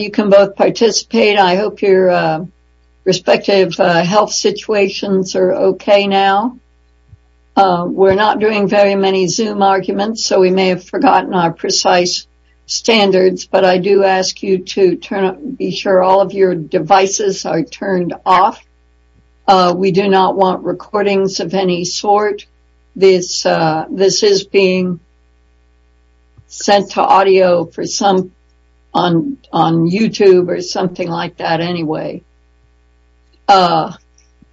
You can both participate. I hope your respective health situations are okay now. We're not doing very many Zoom arguments, so we may have forgotten our precise standards, but I do ask you to be sure all of your devices are turned off. We do not want recordings of any sort. This is being sent to audio on YouTube or something like that anyway.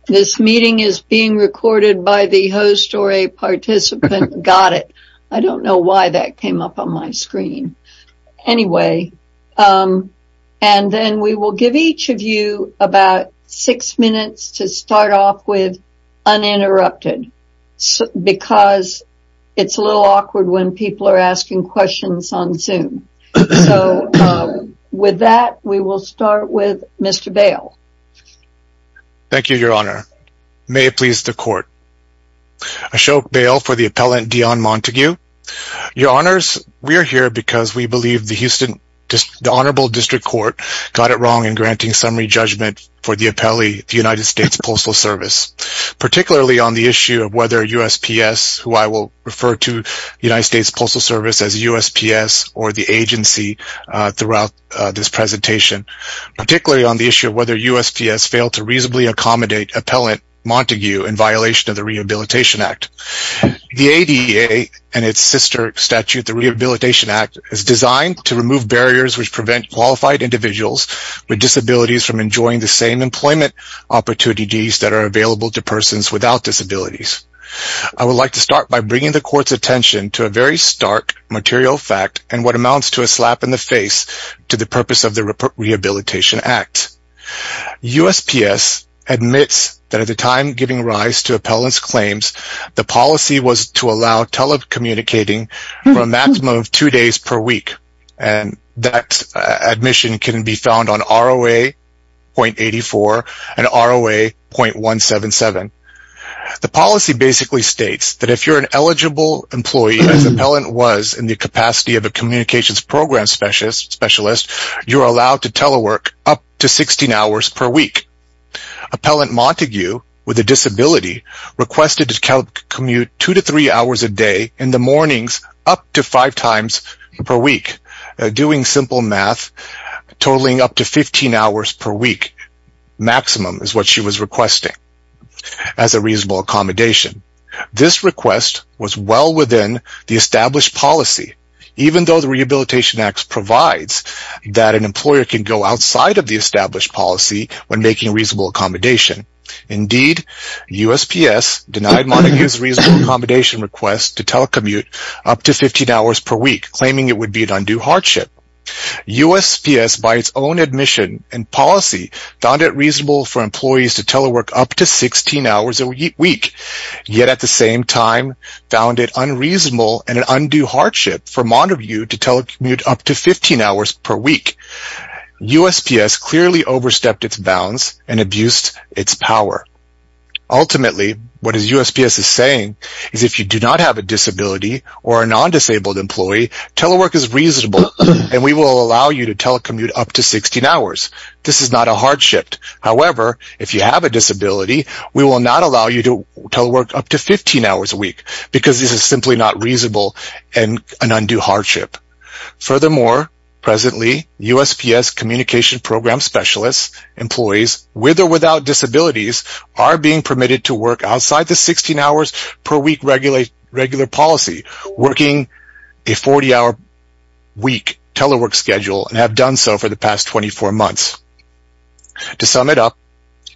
This meeting is being recorded by the host or a participant. Got it. I don't know why that came up on my screen. Anyway, and then we will give each of you about six minutes to start off with uninterrupted. Because it's a little awkward when people are asking questions on Zoom. So with that, we will start with Mr. Bail. Thank you, Your Honor. May it please the Court. Ashok Bail for the appellant Dion Montague. Your Honors, we are here because we believe the Honorable District Court got it wrong in granting summary judgment for the appellee, the United States Postal Service, particularly on the issue of whether USPS, who I will refer to United States Postal Service as USPS or the agency throughout this presentation, particularly on the issue of whether USPS failed to reasonably accommodate appellant Montague in violation of the Rehabilitation Act. The ADA and its sister statute, the Rehabilitation Act, is designed to remove barriers which prevent qualified individuals with disabilities from enjoying the same employment opportunities that are available to persons without disabilities. I would like to start by bringing the Court's attention to a very stark material fact and what amounts to a slap in the face to the purpose of the Rehabilitation Act. USPS admits that at the time giving rise to appellant's claims, the policy was to allow telecommunicating for a maximum of two days per week. And that admission can be found on ROA.84 and ROA.177. The policy basically states that if you're an eligible employee, as appellant was in the capacity of a communications program specialist, you're allowed to telework up to 16 hours per week. Appellant Montague, with a disability, requested to commute two to three hours a day in the mornings up to five times per week. Doing simple math, totaling up to 15 hours per week maximum is what she was requesting as a reasonable accommodation. This request was well within the established policy, even though the Rehabilitation Act provides that an employer can go outside of the established policy when making reasonable accommodation. Indeed, USPS denied Montague's reasonable accommodation request to telecommute up to 15 hours per week, claiming it would be an undue hardship. USPS, by its own admission and policy, found it reasonable for employees to telework up to 16 hours a week, yet at the same time found it unreasonable and an undue hardship for Montague to telecommute up to 15 hours per week. USPS clearly overstepped its bounds and abused its power. Ultimately, what USPS is saying is if you do not have a disability or a non-disabled employee, telework is reasonable and we will allow you to telecommute up to 16 hours. This is not a hardship. However, if you have a disability, we will not allow you to telework up to 15 hours a week because this is simply not reasonable and an undue hardship. Furthermore, presently, USPS communication program specialists, employees with or without disabilities, are being permitted to work outside the 16 hours per week regular policy, working a 40-hour week telework schedule and have done so for the past 24 months. To sum it up,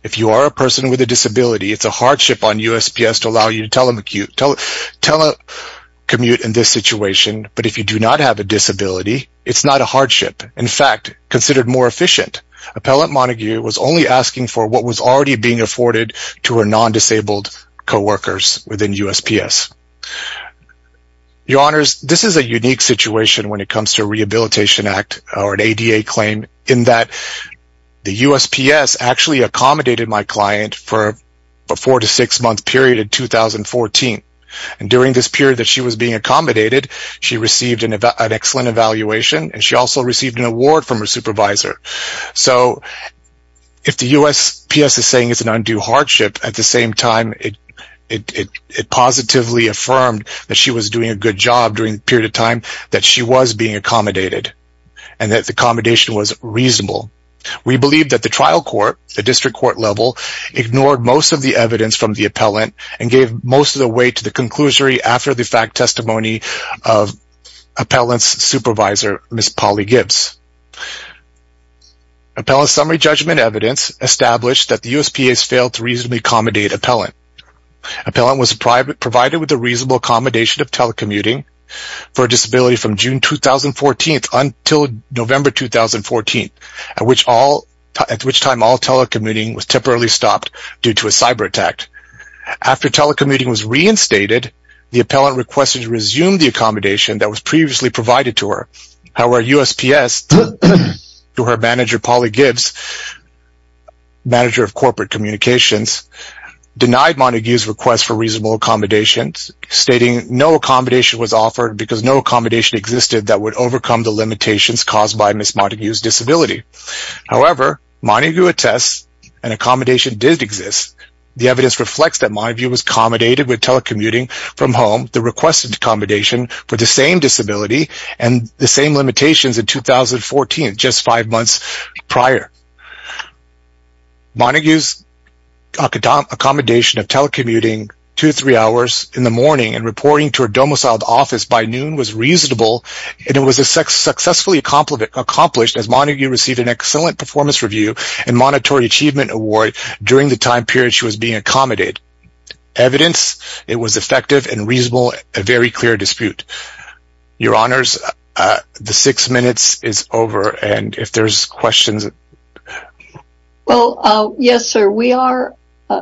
if you are a person with a disability, it's a hardship on USPS to allow you to telecommute in this situation, but if you do not have a disability, it's not a hardship. In fact, considered more efficient, Appellant Montague was only asking for what was already being afforded to her non-disabled co-workers within USPS. Your Honors, this is a unique situation when it comes to a Rehabilitation Act or an ADA claim in that the USPS actually accommodated my client for a 4-6 month period in 2014. During this period that she was being accommodated, she received an excellent evaluation and she also received an award from her supervisor. So, if the USPS is saying it's an undue hardship, at the same time it positively affirmed that she was doing a good job during the period of time that she was being accommodated and that the accommodation was reasonable. We believe that the trial court, the district court level, ignored most of the evidence from the appellant and gave most of the weight to the conclusion after the fact testimony of appellant's supervisor, Ms. Polly Gibbs. Appellant's summary judgment evidence established that the USPS failed to reasonably accommodate appellant. Appellant was provided with a reasonable accommodation of telecommuting for a disability from June 2014 until November 2014, at which time all telecommuting was temporarily stopped due to a cyber attack. After telecommuting was reinstated, the appellant requested to resume the accommodation that was previously provided to her. However, USPS to her manager, Polly Gibbs, manager of corporate communications, denied Montague's request for reasonable accommodations, stating no accommodation was offered because no accommodation existed that would overcome the limitations caused by Ms. Montague's disability. However, Montague attests an accommodation did exist. The evidence reflects that Montague was accommodated with telecommuting from home, the requested accommodation for the same disability and the same limitations in 2014, just five months prior. Montague's accommodation of telecommuting two to three hours in the morning and reporting to her domiciled office by noon was reasonable and it was successfully accomplished as Montague received an excellent performance review and monetary achievement award during the time period she was being accommodated. Evidence, it was effective and reasonable, a very clear dispute. Your Honors, the six minutes is over and if there's questions... Well, yes sir, we are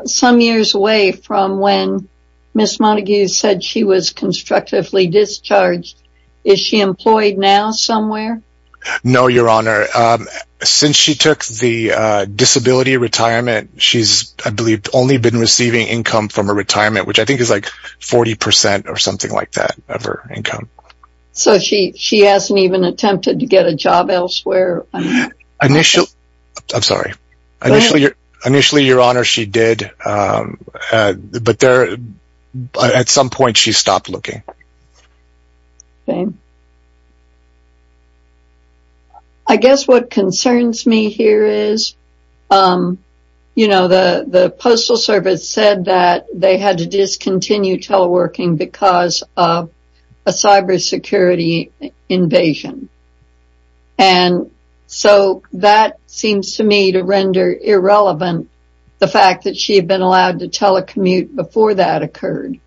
some years away from when Ms. Montague said she was constructively discharged. Is she employed now somewhere? No, Your Honor. Since she took the disability retirement, she's I believe only been receiving income from her retirement, which I think is like 40% or something like that of her income. So she hasn't even attempted to get a job elsewhere? Initially, Your Honor, she did, but at some point she stopped looking. Okay. I guess what concerns me here is, you know, the Postal Service said that they had to discontinue teleworking because of a cybersecurity invasion. And so that seems to me to render irrelevant the fact that she had been allowed to telecommute before that occurred.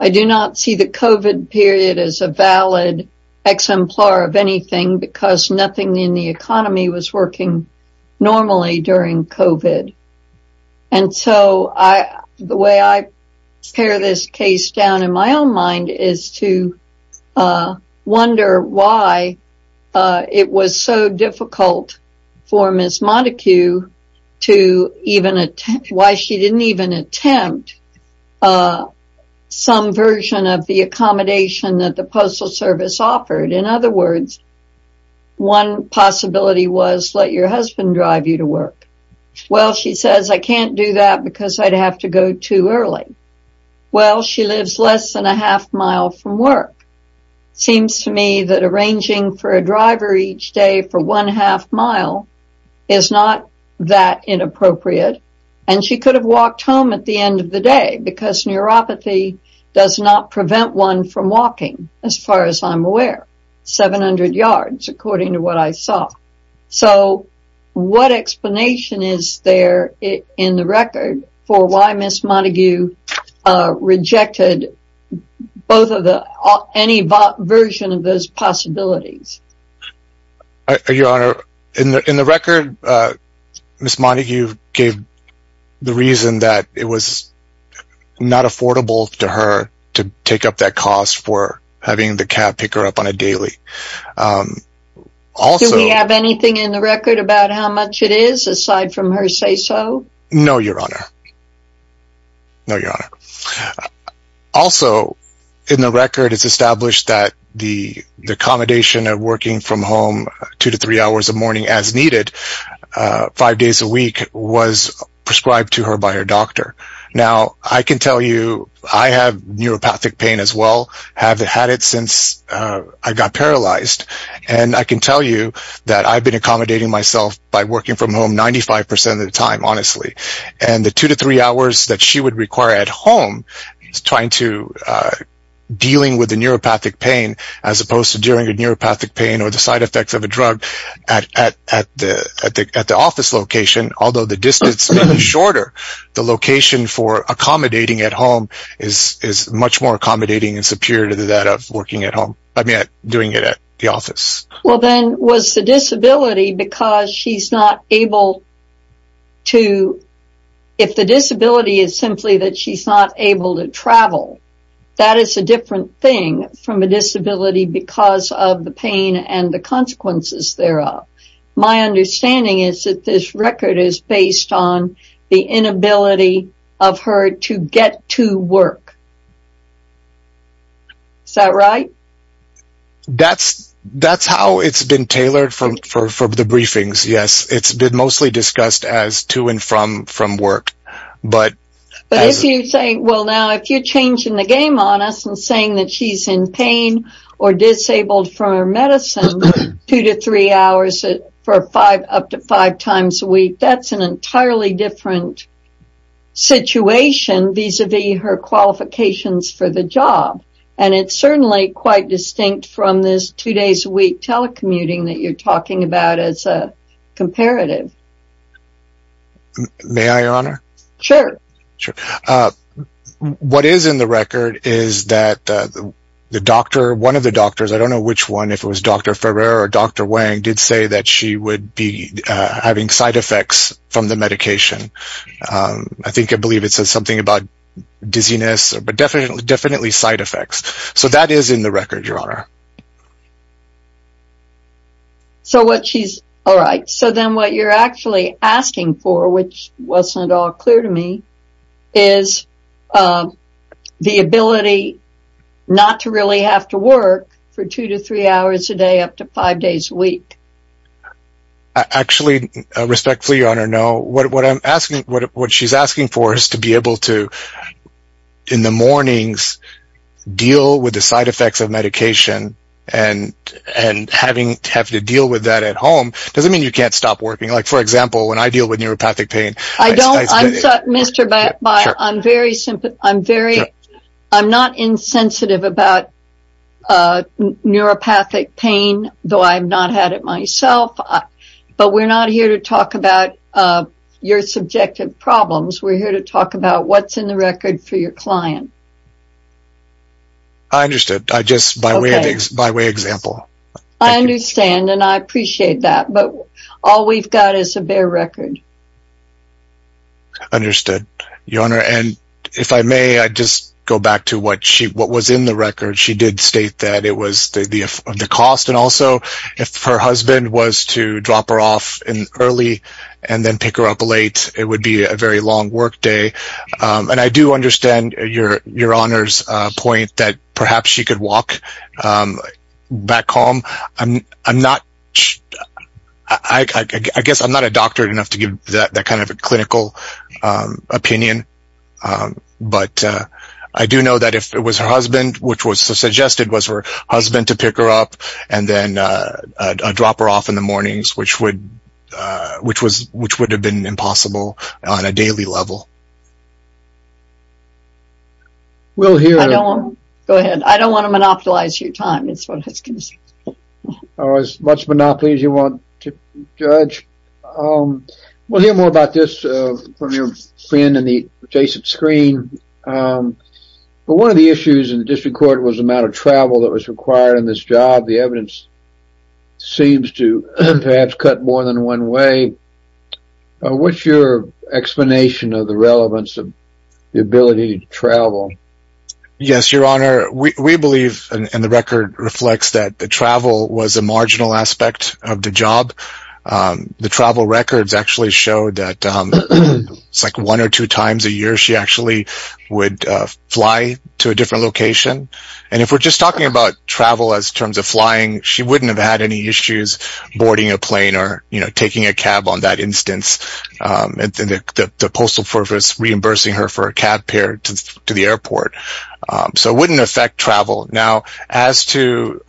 I do not see the COVID period as a valid exemplar of anything because nothing in the economy was working normally during COVID. And so the way I tear this case down in my own mind is to wonder why it was so difficult for Ms. Montague to think about some version of the accommodation that the Postal Service offered. In other words, one possibility was let your husband drive you to work. Well, she says, I can't do that because I'd have to go too early. Well, she lives less than a half mile from work. Seems to me that arranging for a driver each day for one half mile is not that inappropriate. And she could have walked home at the end of the day because neuropathy does not prevent one from walking. As far as I'm aware, 700 yards, according to what I saw. So what explanation is there in the record for why Ms. Montague rejected both of the any version of those possibilities? Your Honor, in the record, Ms. Montague gave the reason that it was not affordable to her to take up that cost for having the cab pick her up on a daily. Do we have anything in the record about how much it is aside from her say so? No, Your Honor. No, Your Honor. Also, in the record, it's established that the accommodation of working from home two to three hours a morning as needed five days a week was prescribed to her by her doctor. Now, I can tell you I have neuropathic pain as well, have had it since I got paralyzed. And I can tell you that I've been accommodating myself by working from home 95 percent of the time, honestly. And the two to three hours that she would require at home is trying to dealing with the neuropathic pain as opposed to dealing with neuropathic pain or the side effects of a drug at the office location. Although the distance is shorter, the location for accommodating at home is much more accommodating and superior to that of working at home, I mean, doing it at the office. Well, then was the disability because she's not able to, if the disability is simply that she's not able to travel, that is a different thing from a disability because of the pain and the consequences thereof. My understanding is that this record is based on the inability of her to get to work. Is that right? That's how it's been tailored for the briefings, yes. It's been mostly discussed as to and from work. But if you say, well, now, if you're changing the game on us and saying that she's in pain or disabled from her medicine two to three hours for five, up to five times a week, that's an entirely different situation vis-a-vis her qualifications for the job. And it's certainly quite distinct from this two days a week telecommuting that you're talking about as a comparative. May I, Your Honor? Sure. What is in the record is that the doctor, one of the doctors, I don't know which one, if it was Dr. Ferrer or Dr. Wang, did say that she would be having side effects from the medication. I think I believe it says something about dizziness, but definitely side effects. So that is in the record, Your Honor. All right. So then what you're actually asking for, which wasn't at all clear to me, is the ability not to really have to work for two to three hours a day up to five days a week. Actually, respectfully, Your Honor, no. What she's asking for is to be able to, in the mornings, deal with the side effects of medication and have to deal with that at home. It doesn't mean you can't stop working. For example, when I deal with neuropathic pain… I'm not insensitive about neuropathic pain, though I've not had it myself. But we're not here to talk about your subjective problems. We're here to talk about what's in the record for your client. I understood. Just by way of example. I understand, and I appreciate that. But all we've got is a bare record. Understood, Your Honor. And if I may, I'd just go back to what was in the record. She did state that it was the cost. And also, if her husband was to drop her off early and then pick her up late, it would be a very long workday. And I do understand Your Honor's point that perhaps she could walk back home. I guess I'm not a doctor enough to give that kind of a clinical opinion. But I do know that if it was her husband, which was suggested, was her husband to pick her up and then drop her off in the mornings, which would have been impossible on a daily level. I don't want to monopolize your time, is what I was going to say. As much monopoly as you want, Judge. We'll hear more about this from your friend in the adjacent screen. But one of the issues in the district court was the amount of travel that was required in this job. The evidence seems to perhaps cut more than one way. What's your explanation of the relevance of the ability to travel? Yes, Your Honor. We believe, and the record reflects, that the travel was a marginal aspect of the job. The travel records actually show that it's like one or two times a year she actually would fly to a different location. And if we're just talking about travel as terms of flying, she wouldn't have had any issues boarding a plane or taking a cab on that instance. The postal service reimbursing her for a cab fare to the airport. So it wouldn't affect travel. Now, as to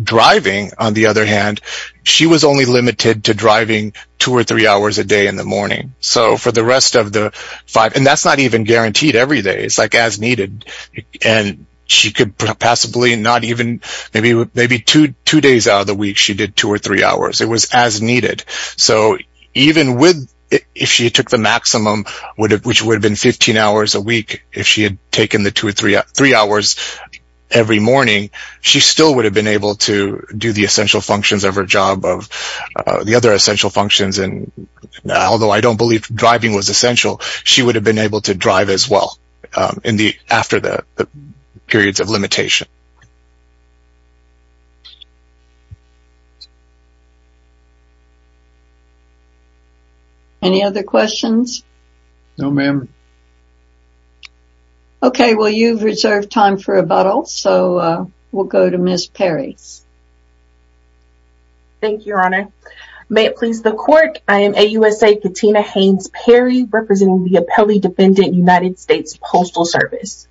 driving, on the other hand, she was only limited to driving two or three hours a day in the morning. And that's not even guaranteed every day. It's like as needed. And she could possibly not even, maybe two days out of the week, she did two or three hours. It was as needed. So even if she took the maximum, which would have been 15 hours a week, if she had taken the two or three hours every morning, she still would have been able to do the essential functions of her job, the other essential functions. Although I don't believe driving was essential, she would have been able to drive as well after the periods of limitation. Any other questions? No, ma'am. Okay, well, you've reserved time for rebuttal. So we'll go to Ms. Perry. Thank you, Your Honor. May it please the Court. I am AUSA Katina Haynes Perry, representing the Appellee Defendant United States Postal Service.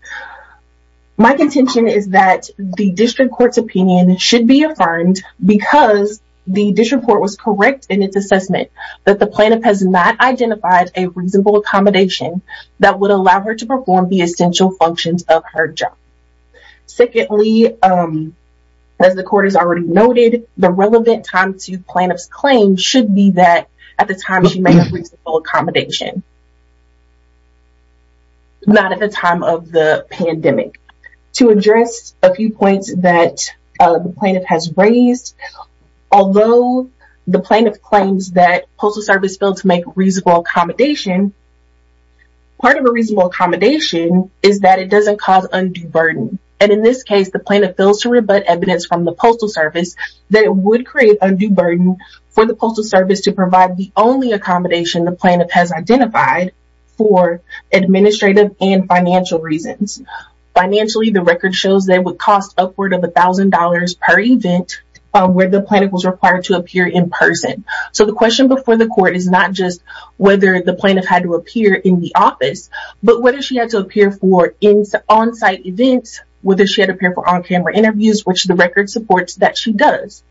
My contention is that the district court's opinion should be affirmed because the district court was correct in its assessment that the plaintiff has not identified a reasonable accommodation that would allow her to perform the essential functions of her job. Secondly, as the court has already noted, the relevant time to plaintiff's claim should be that at the time she made a reasonable accommodation, not at the time of the pandemic. To address a few points that the plaintiff has raised, although the plaintiff claims that postal service failed to make a reasonable accommodation, part of a reasonable accommodation is that it doesn't cause undue burden. And in this case, the plaintiff fails to rebut evidence from the postal service that it would create undue burden for the postal service to provide the only accommodation the plaintiff has identified for administrative and financial reasons. Financially, the record shows that it would cost upward of $1,000 per event where the plaintiff was required to appear in person. So, the question before the court is not just whether the plaintiff had to appear in the office, but whether she had to appear for on-site events, whether she had to appear for on-camera interviews, which the record supports that she does.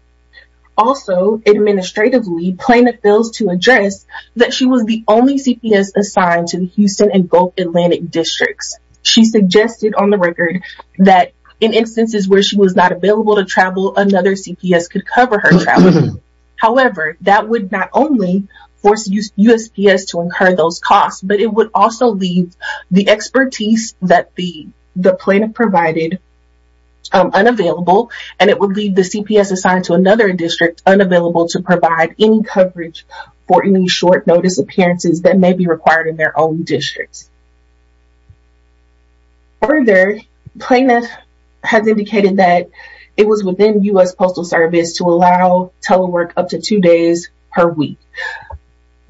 Also, administratively, plaintiff fails to address that she was the only CPS assigned to the Houston and Gulf Atlantic districts. She suggested on the record that in instances where she was not available to travel, another CPS could cover her travel. However, that would not only force USPS to incur those costs, but it would also leave the expertise that the plaintiff provided unavailable, and it would leave the CPS assigned to another district unavailable to provide any coverage for any short notice appearances that may be required in their own districts. Further, plaintiff has indicated that it was within US Postal Service to allow telework up to two days per week.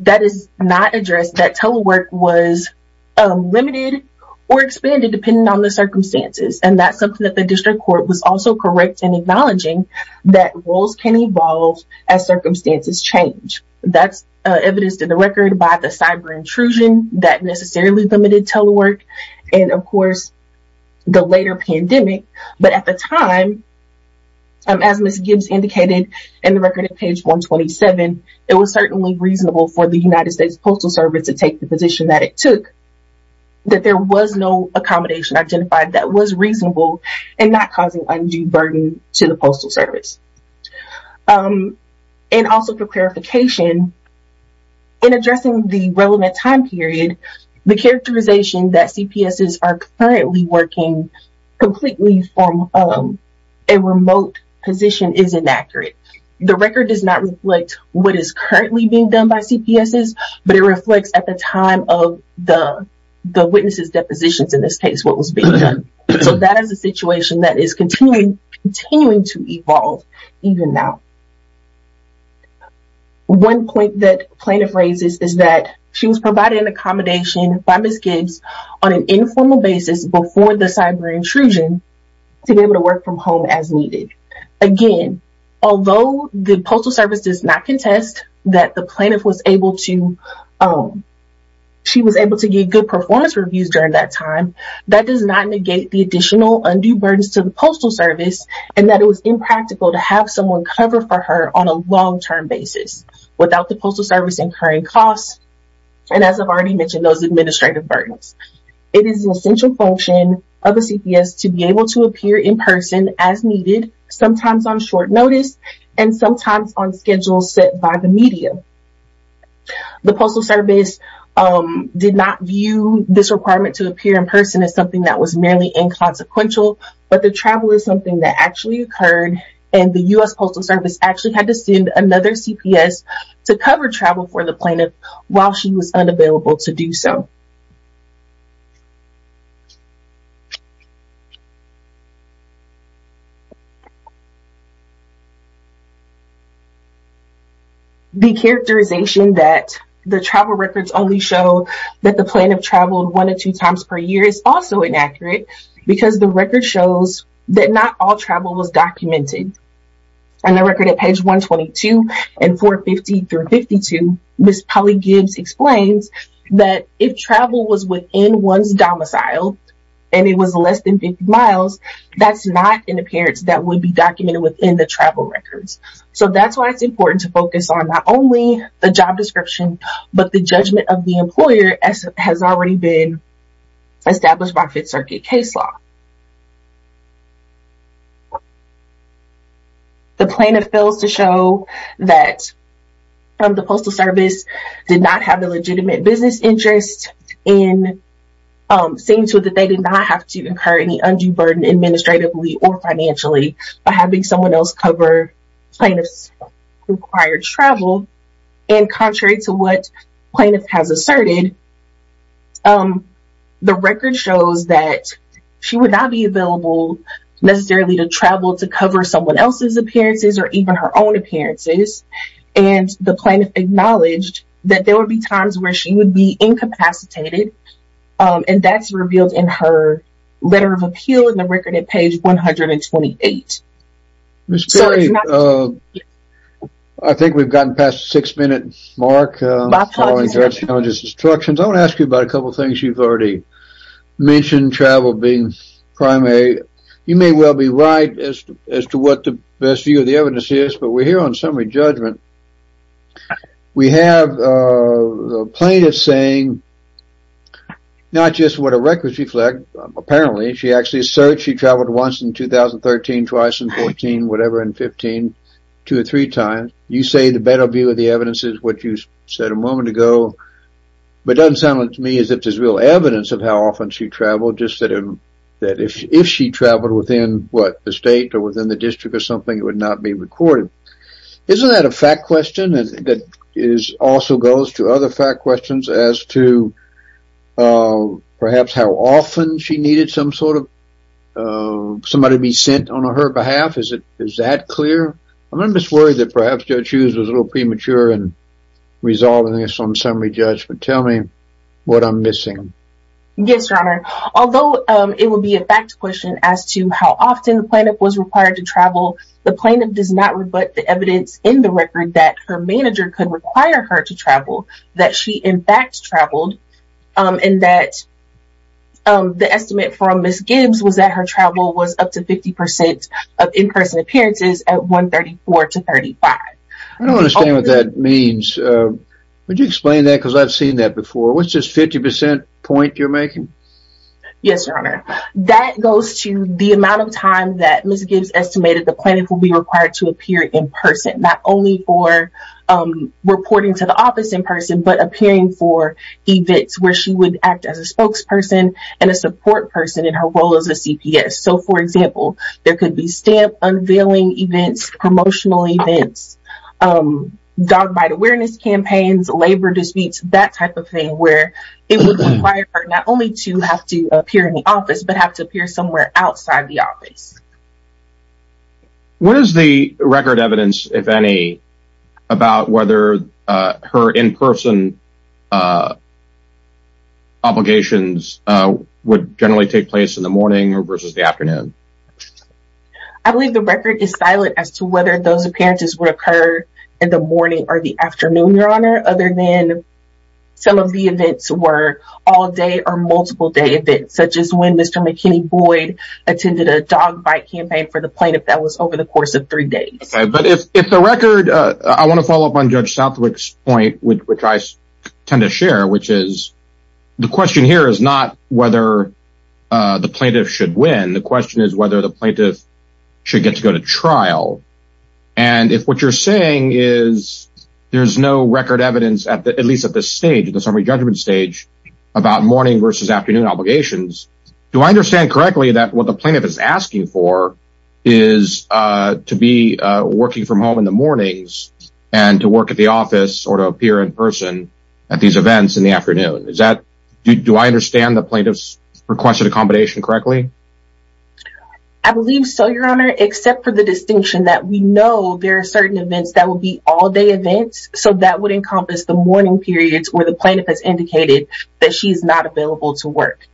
That is not addressed, that telework was limited or expanded depending on the circumstances, and that's something that the district court was also correct in acknowledging that roles can evolve as circumstances change. That's evidenced in the record by the cyber intrusion that necessarily limited telework, and of course, the later pandemic. But at the time, as Ms. Gibbs indicated in the record at page 127, it was certainly reasonable for the United States Postal Service to take the position that it took, that there was no accommodation identified that was reasonable and not causing undue burden to the Postal Service. And also for clarification, in addressing the relevant time period, the characterization that CPSs are currently working completely from a remote position is inaccurate. The record does not reflect what is currently being done by CPSs, but it reflects at the time of the witnesses' depositions in this case what was being done. So that is a situation that is continuing to evolve even now. One point that plaintiff raises is that she was provided an accommodation by Ms. Gibbs on an informal basis before the cyber intrusion to be able to work from home as needed. Again, although the Postal Service does not contest that the plaintiff was able to get good performance reviews during that time, that does not negate the additional undue burdens to the Postal Service, and that it was impractical to have someone cover for her on a long-term basis without the Postal Service incurring costs, and as I've already mentioned, those administrative burdens. It is an essential function of a CPS to be able to appear in person as needed, sometimes on short notice, and sometimes on schedules set by the media. The Postal Service did not view this requirement to appear in person as something that was merely inconsequential, but the travel is something that actually occurred, and the U.S. Postal Service actually had to send another CPS to cover travel for the plaintiff while she was unavailable to do so. The characterization that the travel records only show that the plaintiff traveled one or two times per year is also inaccurate because the record shows that not all travel was documented. On the record at page 122 and 450 through 52, Ms. Polly Gibbs explains that if travel was within one's domicile and it was less than 50 miles, that's not an appearance that would be documented within the travel records. So, that's why it's important to focus on not only the job description, but the judgment of the employer as has already been established by Fifth Circuit case law. The plaintiff fails to show that the Postal Service did not have a legitimate business interest in seeing to it that they did not have to incur any undue burden administratively or financially by having someone else cover plaintiff's required travel. And contrary to what plaintiff has asserted, the record shows that she would not be available necessarily to travel to cover someone else's appearances or even her own appearances. And the plaintiff acknowledged that there would be times where she would be incapacitated, and that's revealed in her letter of appeal in the record at page 128. Ms. Perry, I think we've gotten past the six-minute mark. I want to ask you about a couple of things you've already mentioned, travel being primary. You may well be right as to what the best view of the evidence is, but we're here on summary judgment. We have plaintiffs saying not just what a record reflects. Apparently, she actually asserts she traveled once in 2013, twice in 14, whatever, and 15, two or three times. You say the better view of the evidence is what you said a moment ago, but it doesn't sound to me as if there's real evidence of how often she traveled, just that if she traveled within, what, the state or within the district or something, it would not be recorded. Isn't that a fact question that also goes to other fact questions as to perhaps how often she needed some sort of somebody to be sent on her behalf? Is that clear? I'm just worried that perhaps Judge Hughes was a little premature in resolving this on summary judgment. Tell me what I'm missing. Yes, Your Honor. Although it would be a fact question as to how often the plaintiff was required to travel, the plaintiff does not rebut the evidence in the record that her manager could require her to travel, that she in fact traveled, and that the estimate from Ms. Gibbs was that her travel was up to 50% of in-person appearances at 134 to 35. I don't understand what that means. Would you explain that because I've seen that before? What's this 50% point you're making? Yes, Your Honor. That goes to the amount of time that Ms. Gibbs estimated the plaintiff would be required to appear in person, not only for reporting to the office in person, but appearing for events where she would act as a spokesperson and a support person in her role as a CPS. So, for example, there could be stamp unveiling events, promotional events, dog bite awareness campaigns, labor disputes, that type of thing where it would require her not only to have to appear in the office, but have to appear somewhere outside the office. What is the record evidence, if any, about whether her in-person obligations would generally take place in the morning versus the afternoon? I believe the record is silent as to whether those appearances would occur in the morning or the afternoon, Your Honor, other than some of the events were all-day or multiple-day events, such as when Mr. McKinney Boyd attended a dog bite campaign for the plaintiff that was over the course of three days. I want to follow up on Judge Southwick's point, which I tend to share, which is the question here is not whether the plaintiff should win. The question is whether the plaintiff should get to go to trial. And if what you're saying is there's no record evidence, at least at this stage, at the summary judgment stage, about morning versus afternoon obligations, do I understand correctly that what the plaintiff is asking for is to be working from home in the mornings and to work at the office or to appear in person at these events in the afternoon? Do I understand the plaintiff's requested accommodation correctly? I believe so, Your Honor, except for the distinction that we know there are certain events that will be all-day events, so that would encompass the morning periods where the plaintiff has indicated that she's not available to work.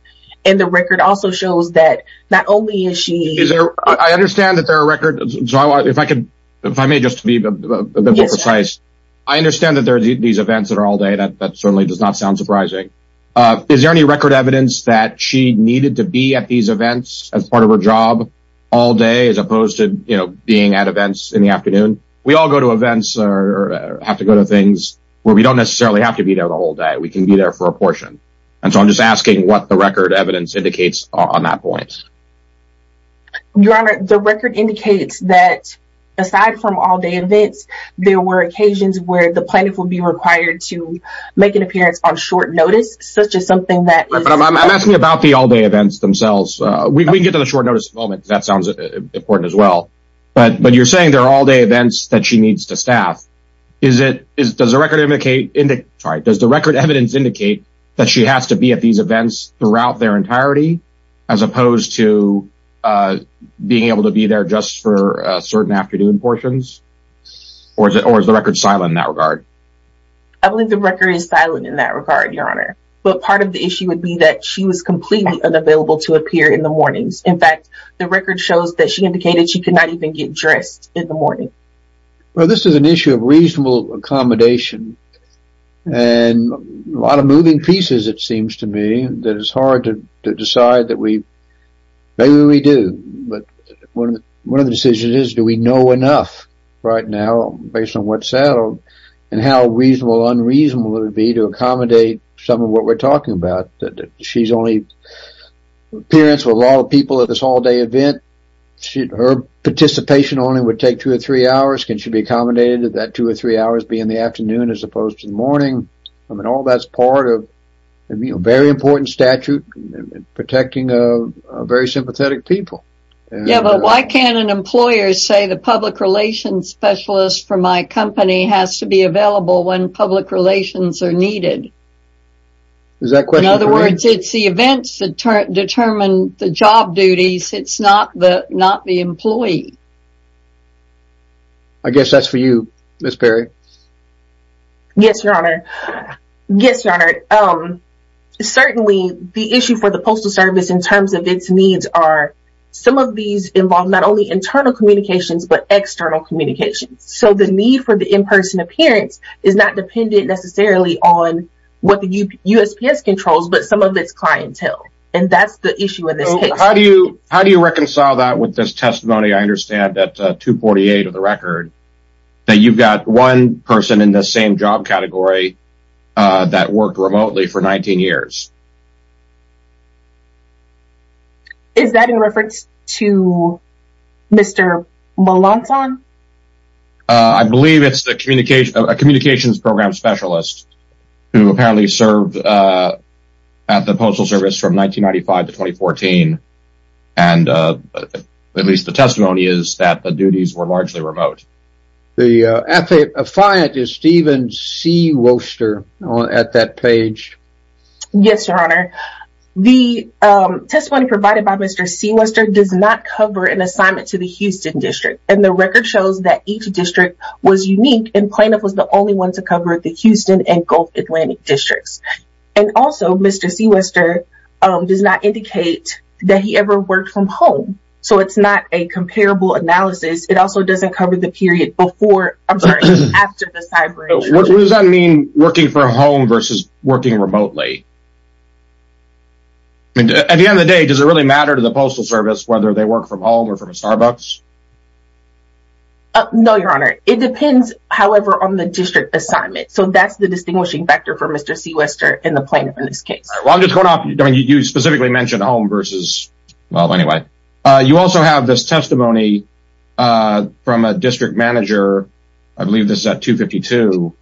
And the record also shows that not only is she... I understand that there are record... If I may just be a bit more precise, I understand that there are these events that are all-day. That certainly does not sound surprising. Is there any record evidence that she needed to be at these events as part of her job all day as opposed to being at events in the afternoon? We all go to events or have to go to things where we don't necessarily have to be there the whole day. We can be there for a portion. And so I'm just asking what the record evidence indicates on that point. Your Honor, the record indicates that aside from all-day events, there were occasions where the plaintiff would be required to make an appearance on short notice, such as something that... I'm asking about the all-day events themselves. We can get to the short notice in a moment because that sounds important as well. But you're saying there are all-day events that she needs to staff. Does the record evidence indicate that she has to be at these events throughout their entirety as opposed to being able to be there just for certain afternoon portions? Or is the record silent in that regard? I believe the record is silent in that regard, Your Honor. But part of the issue would be that she was completely unavailable to appear in the mornings. In fact, the record shows that she indicated she could not even get dressed in the morning. Well, this is an issue of reasonable accommodation. And a lot of moving pieces, it seems to me, that it's hard to decide that we... Maybe we do. But one of the decisions is do we know enough right now based on what's settled and how reasonable or unreasonable it would be to accommodate some of what we're talking about. She's only appearance with a lot of people at this all-day event. Her participation only would take two or three hours. Can she be accommodated that two or three hours be in the afternoon as opposed to the morning? I mean, all that's part of a very important statute protecting very sympathetic people. Yeah, but why can't an employer say the public relations specialist for my company has to be available when public relations are needed? In other words, it's the events that determine the job duties. It's not the employee. I guess that's for you, Miss Perry. Yes, Your Honor. Yes, Your Honor. Certainly, the issue for the Postal Service in terms of its needs are some of these involve not only internal communications, but external communications. So the need for the in-person appearance is not dependent necessarily on what the USPS controls, but some of its clientele. And that's the issue in this case. How do you reconcile that with this testimony? I understand that 248 of the record, that you've got one person in the same job category that worked remotely for 19 years. Is that in reference to Mr. Molonton? I believe it's a communications program specialist who apparently served at the Postal Service from 1995 to 2014. And at least the testimony is that the duties were largely remote. The affiant is Steven Seawoster at that page. Yes, Your Honor. The testimony provided by Mr. Seawoster does not cover an assignment to the Houston district. And the record shows that each district was unique and plaintiff was the only one to cover the Houston and Gulf Atlantic districts. And also, Mr. Seawoster does not indicate that he ever worked from home. So it's not a comparable analysis. It also doesn't cover the period before, I'm sorry, after the cyber. What does that mean working from home versus working remotely? At the end of the day, does it really matter to the Postal Service whether they work from home or from a Starbucks? No, Your Honor. It depends, however, on the district assignment. So that's the distinguishing factor for Mr. Seawoster in the plaintiff in this case. You specifically mentioned home versus, well, anyway, you also have this testimony from a district manager. I believe this is at 252.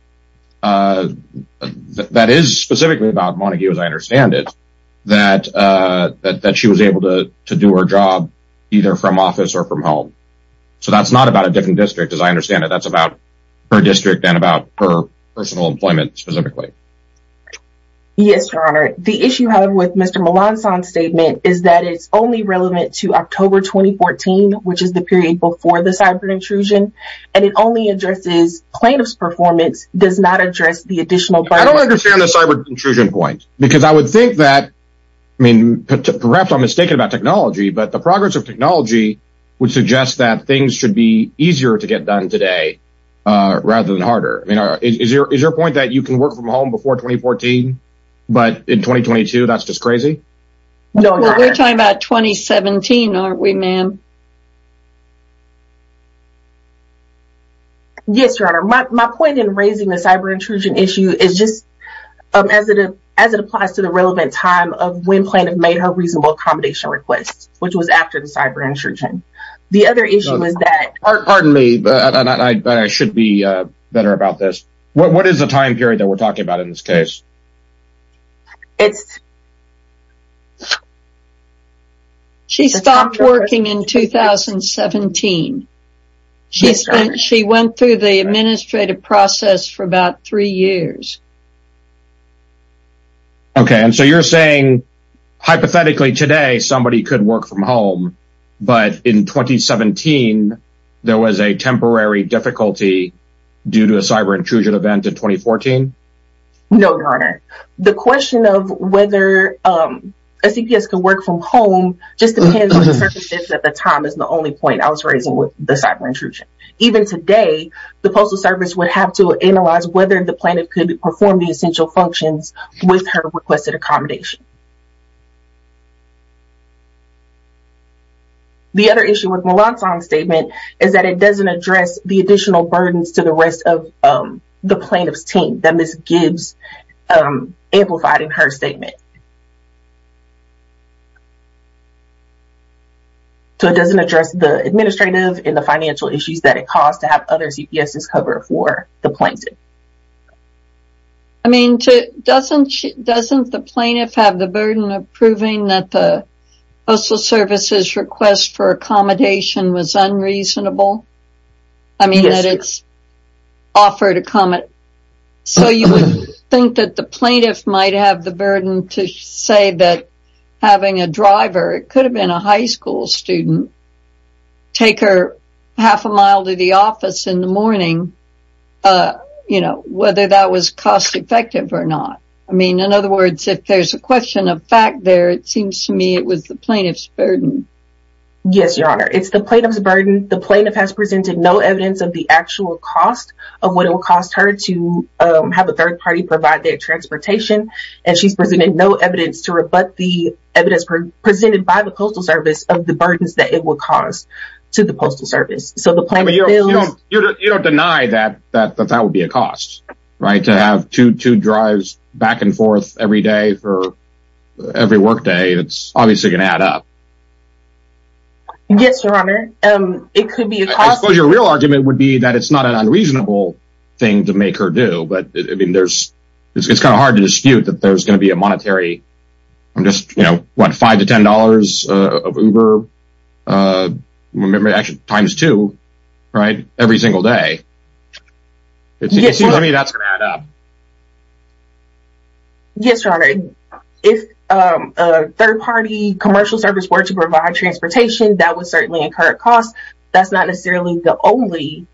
That is specifically about Montague, as I understand it, that she was able to do her job either from office or from home. So that's not about a different district, as I understand it. That's about her district and about her personal employment specifically. Yes, Your Honor. The issue, however, with Mr. Melanson's statement is that it's only relevant to October 2014, which is the period before the cyber intrusion. And it only addresses plaintiff's performance, does not address the additional burden. I don't understand the cyber intrusion point because I would think that, I mean, perhaps I'm mistaken about technology. But the progress of technology would suggest that things should be easier to get done today rather than harder. I mean, is your point that you can work from home before 2014, but in 2022, that's just crazy? No, we're talking about 2017, aren't we, ma'am? Yes, Your Honor. My point in raising the cyber intrusion issue is just as it applies to the relevant time of when plaintiff made her reasonable accommodation request, which was after the cyber intrusion. Pardon me, but I should be better about this. What is the time period that we're talking about in this case? She stopped working in 2017. She went through the administrative process for about three years. OK, and so you're saying hypothetically today somebody could work from home, but in 2017, there was a temporary difficulty due to a cyber intrusion event in 2014? No, Your Honor. The question of whether a CPS could work from home just depends on the circumstances at the time is the only point I was raising with the cyber intrusion. Even today, the Postal Service would have to analyze whether the plaintiff could perform the essential functions with her requested accommodation. The other issue with Mulan Song's statement is that it doesn't address the additional burdens to the rest of the plaintiff's team that Ms. Gibbs amplified in her statement. So, it doesn't address the administrative and the financial issues that it caused to have other CPS's cover for the plaintiff. I mean, doesn't the plaintiff have the burden of proving that the Postal Service's request for accommodation was unreasonable? Yes, Your Honor. So, you would think that the plaintiff might have the burden to say that having a driver, it could have been a high school student, take her half a mile to the office in the morning, you know, whether that was cost effective or not. I mean, in other words, if there's a question of fact there, it seems to me it was the plaintiff's burden. Yes, Your Honor. It's the plaintiff's burden. The plaintiff has presented no evidence of the actual cost of what it would cost her to have a third party provide their transportation. And she's presented no evidence to rebut the evidence presented by the Postal Service of the burdens that it would cause to the Postal Service. You don't deny that that would be a cost, right? To have two drives back and forth every day for every work day, it's obviously going to add up. Yes, Your Honor. It could be a cost. I suppose your real argument would be that it's not an unreasonable thing to make her do, but I mean, there's, it's kind of hard to dispute that there's going to be a monetary, I'm just, you know, what, five to ten dollars of Uber, times two, right, every single day. It seems to me that's going to add up. Yes, Your Honor. If a third party commercial service were to provide transportation, that would certainly incur a cost. That's not necessarily the only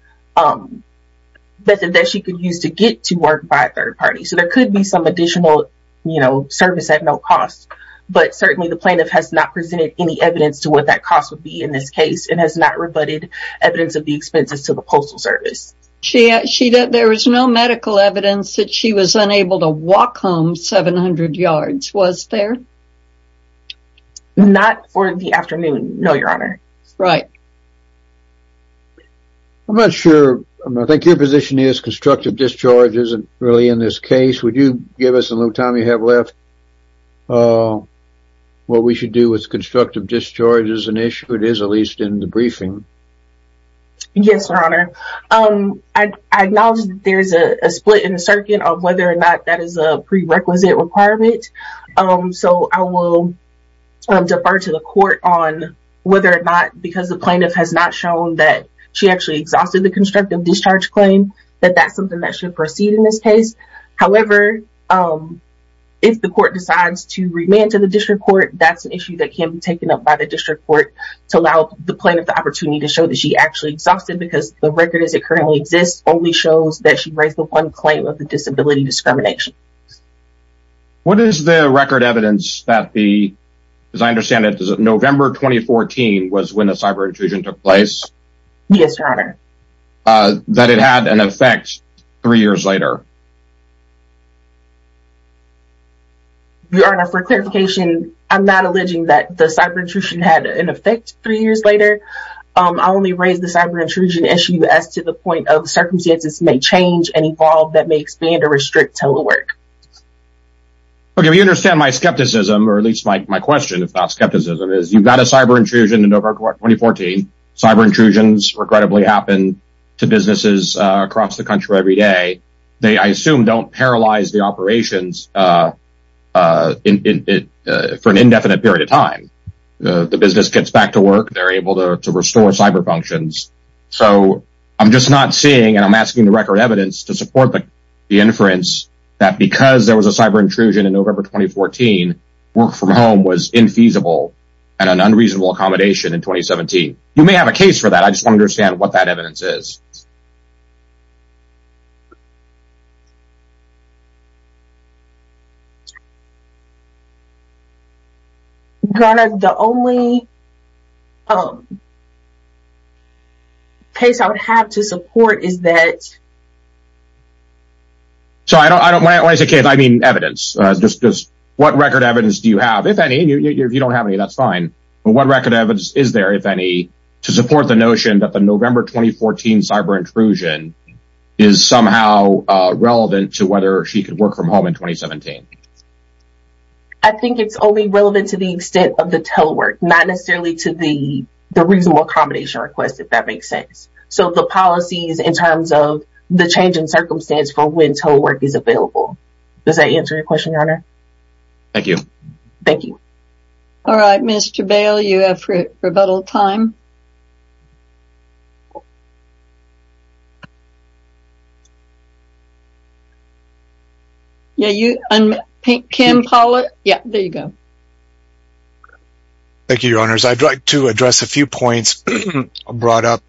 method that she could use to get to work by a third party. So there could be some additional, you know, service at no cost. But certainly the plaintiff has not presented any evidence to what that cost would be in this case and has not rebutted evidence of the expenses to the Postal Service. There was no medical evidence that she was unable to walk home 700 yards, was there? Not for the afternoon, no, Your Honor. Right. I'm not sure, I think your position is constructive discharge isn't really in this case. Would you give us a little time you have left, what we should do with constructive discharges, an issue it is at least in the briefing? Yes, Your Honor. I acknowledge there's a split in the circuit of whether or not that is a prerequisite requirement. So I will defer to the court on whether or not because the plaintiff has not shown that she actually exhausted the constructive discharge claim, that that's something that should proceed in this case. However, if the court decides to remand to the district court, that's an issue that can be taken up by the district court to allow the plaintiff the opportunity to show that she actually exhausted because the record as it currently exists only shows that she raised the one claim of the disability discrimination. What is the record evidence that the, as I understand it, November 2014 was when the cyber intrusion took place? Yes, Your Honor. That it had an effect three years later? Your Honor, for clarification, I'm not alleging that the cyber intrusion had an effect three years later. I only raised the cyber intrusion issue as to the point of circumstances may change and evolve that may expand or restrict total work. Okay, if you understand my skepticism, or at least my question, if not skepticism, is you've got a cyber intrusion in November 2014. Cyber intrusions, regrettably, happen to businesses across the country every day. They, I assume, don't paralyze the operations for an indefinite period of time. The business gets back to work. They're able to restore cyber functions. So, I'm just not seeing, and I'm asking the record evidence to support the inference that because there was a cyber intrusion in November 2014, work from home was infeasible and an unreasonable accommodation in 2017. You may have a case for that. I just want to understand what that evidence is. Your Honor, the only case I would have to support is that... So, when I say case, I mean evidence. Just what record evidence do you have? If any, if you don't have any, that's fine. But what record evidence is there, if any, to support the notion that the November 2014 cyber intrusion is somehow relevant to whether she could work from home in 2017? I think it's only relevant to the extent of the total work, not necessarily to the reasonable accommodation request, if that makes sense. So, the policies in terms of the change in circumstance for when total work is available. Does that answer your question, Your Honor? Thank you. Thank you. All right, Mr. Bail, you have rebuttal time. Yeah, you, Kim, Paula, yeah, there you go. Thank you, Your Honors. I'd like to address a few points brought up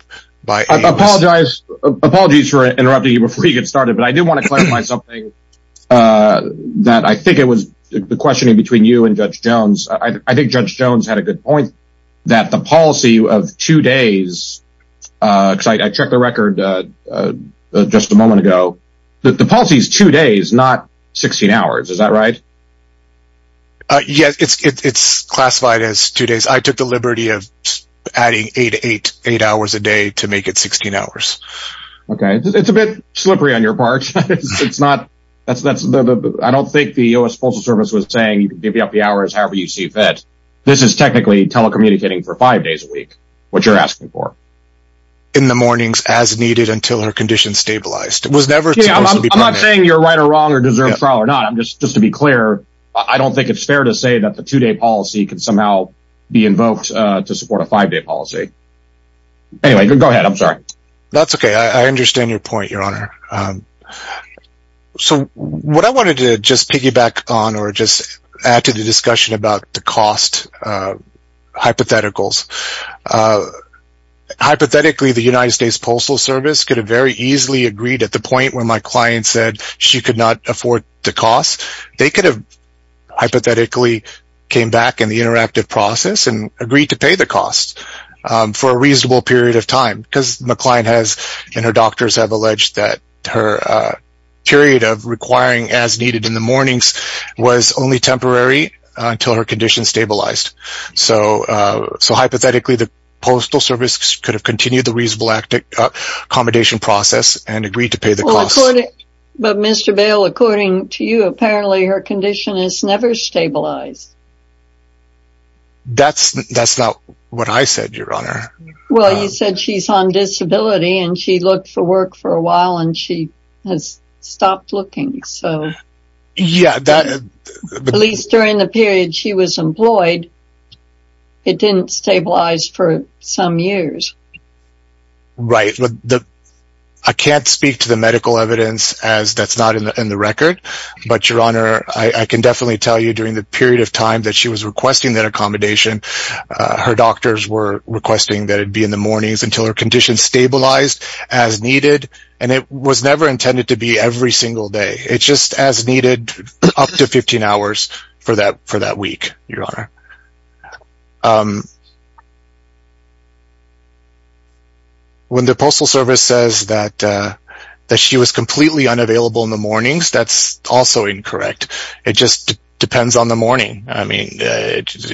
by... I apologize. Apologies for interrupting you before you get started, but I do want to clarify something that I think it was the questioning between you and Judge Jones. I think Judge Jones had a good point that the policy of two days, because I checked the record just a moment ago, that the policy is two days, not 16 hours. Is that right? Yes, it's classified as two days. I took the liberty of adding eight hours a day to make it 16 hours. Okay. It's a bit slippery on your part. It's not... I don't think the U.S. Postal Service was saying you can give me up the hours however you see fit. This is technically telecommunicating for five days a week, what you're asking for. In the mornings as needed until her condition stabilized. I'm not saying you're right or wrong or deserve trial or not. Just to be clear, I don't think it's fair to say that the two-day policy can somehow be invoked to support a five-day policy. Anyway, go ahead. I'm sorry. That's okay. I understand your point, Your Honor. What I wanted to just piggyback on or just add to the discussion about the cost hypotheticals. Hypothetically, the United States Postal Service could have very easily agreed at the point where my client said she could not afford the cost. They could have hypothetically came back in the interactive process and agreed to pay the cost for a reasonable period of time. Because my client and her doctors have alleged that her period of requiring as needed in the mornings was only temporary until her condition stabilized. So hypothetically, the Postal Service could have continued the reasonable accommodation process and agreed to pay the cost. But Mr. Bail, according to you, apparently her condition has never stabilized. That's not what I said, Your Honor. Well, you said she's on disability and she looked for work for a while and she has stopped looking. At least during the period she was employed, it didn't stabilize for some years. Right. I can't speak to the medical evidence as that's not in the record. But, Your Honor, I can definitely tell you during the period of time that she was requesting that accommodation, her doctors were requesting that it be in the mornings until her condition stabilized as needed. And it was never intended to be every single day. It's just as needed up to 15 hours for that week, Your Honor. When the Postal Service says that she was completely unavailable in the mornings, that's also incorrect. It just depends on the morning. I mean,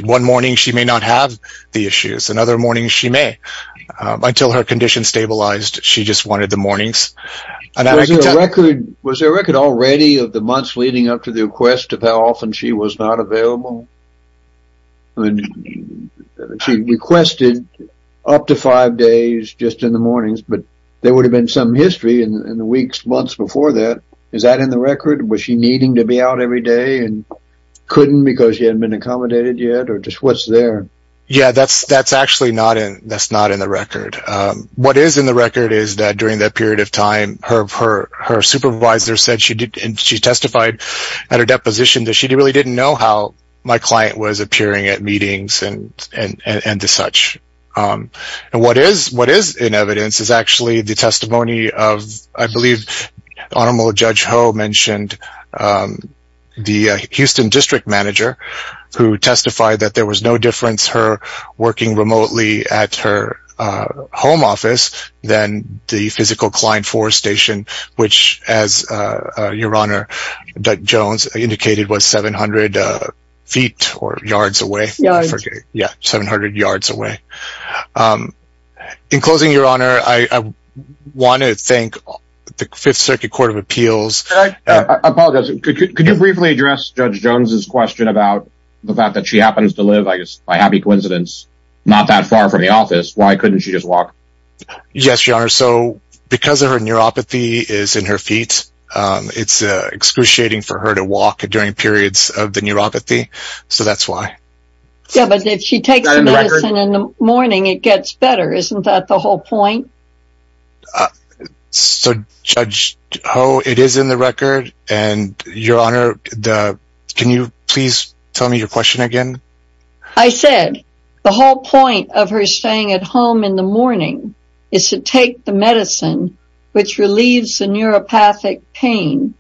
one morning she may not have the issues. Another morning she may. Until her condition stabilized, she just wanted the mornings. Was there a record already of the months leading up to the request of how often she was not available? She requested up to five days just in the mornings, but there would have been some history in the weeks, months before that. Is that in the record? Was she needing to be out every day and couldn't because she hadn't been accommodated yet or just what's there? Yeah, that's actually not in the record. What is in the record is that during that period of time, her supervisor said she testified at her deposition that she really didn't know how my client was appearing at meetings and such. What is in evidence is actually the testimony of, I believe Honorable Judge Ho mentioned the Houston District Manager who testified that there was no difference her working remotely at her home office than the physical client for station, which, as your honor Jones indicated, was 700 feet or yards away. Yeah. Yeah. 700 yards away. In closing, your honor, I want to thank the Fifth Circuit Court of Appeals. I apologize. Could you briefly address Judge Jones's question about the fact that she happens to live, I guess, by happy coincidence, not that far from the office? Why couldn't she just walk? Yes, your honor. So because of her neuropathy is in her feet, it's excruciating for her to walk during periods of the neuropathy. So that's why. Yeah, but if she takes medicine in the morning, it gets better. Isn't that the whole point? So Judge Ho, it is in the record. And your honor, can you please tell me your question again? I said the whole point of her staying at home in the morning is to take the medicine which relieves the neuropathic pain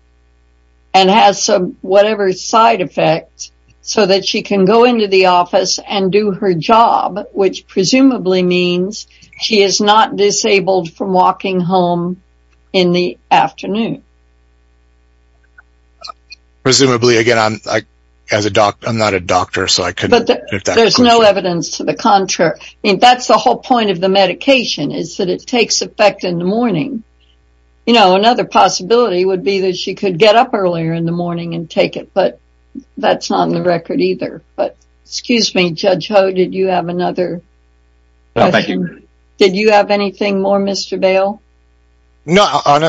and has whatever side effect so that she can go into the office and do her job, which presumably means she is not disabled from walking home in the afternoon. Presumably, again, I'm not a doctor, so I couldn't get that question. But there's no evidence to the contrary. I mean, that's the whole point of the medication is that it takes effect in the morning. You know, another possibility would be that she could get up earlier in the morning and take it, but that's not in the record either. But excuse me, Judge Ho, did you have another question? No, thank you. Did you have anything more, Mr. Bail? No,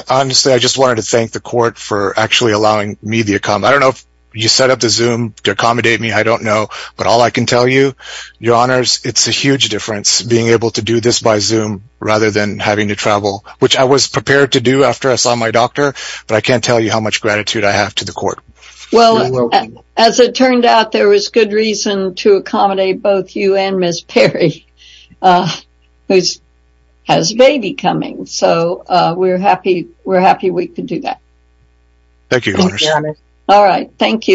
honestly, I just wanted to thank the court for actually allowing me to come. I don't know if you set up the Zoom to accommodate me. I don't know. But all I can tell you, your honors, it's a huge difference being able to do this by Zoom rather than having to travel, which I was prepared to do after I saw my doctor. But I can't tell you how much gratitude I have to the court. Well, as it turned out, there was good reason to accommodate both you and Ms. Perry, who has a baby coming. So we're happy. We're happy we could do that. Thank you. All right. Thank you. Goodbye.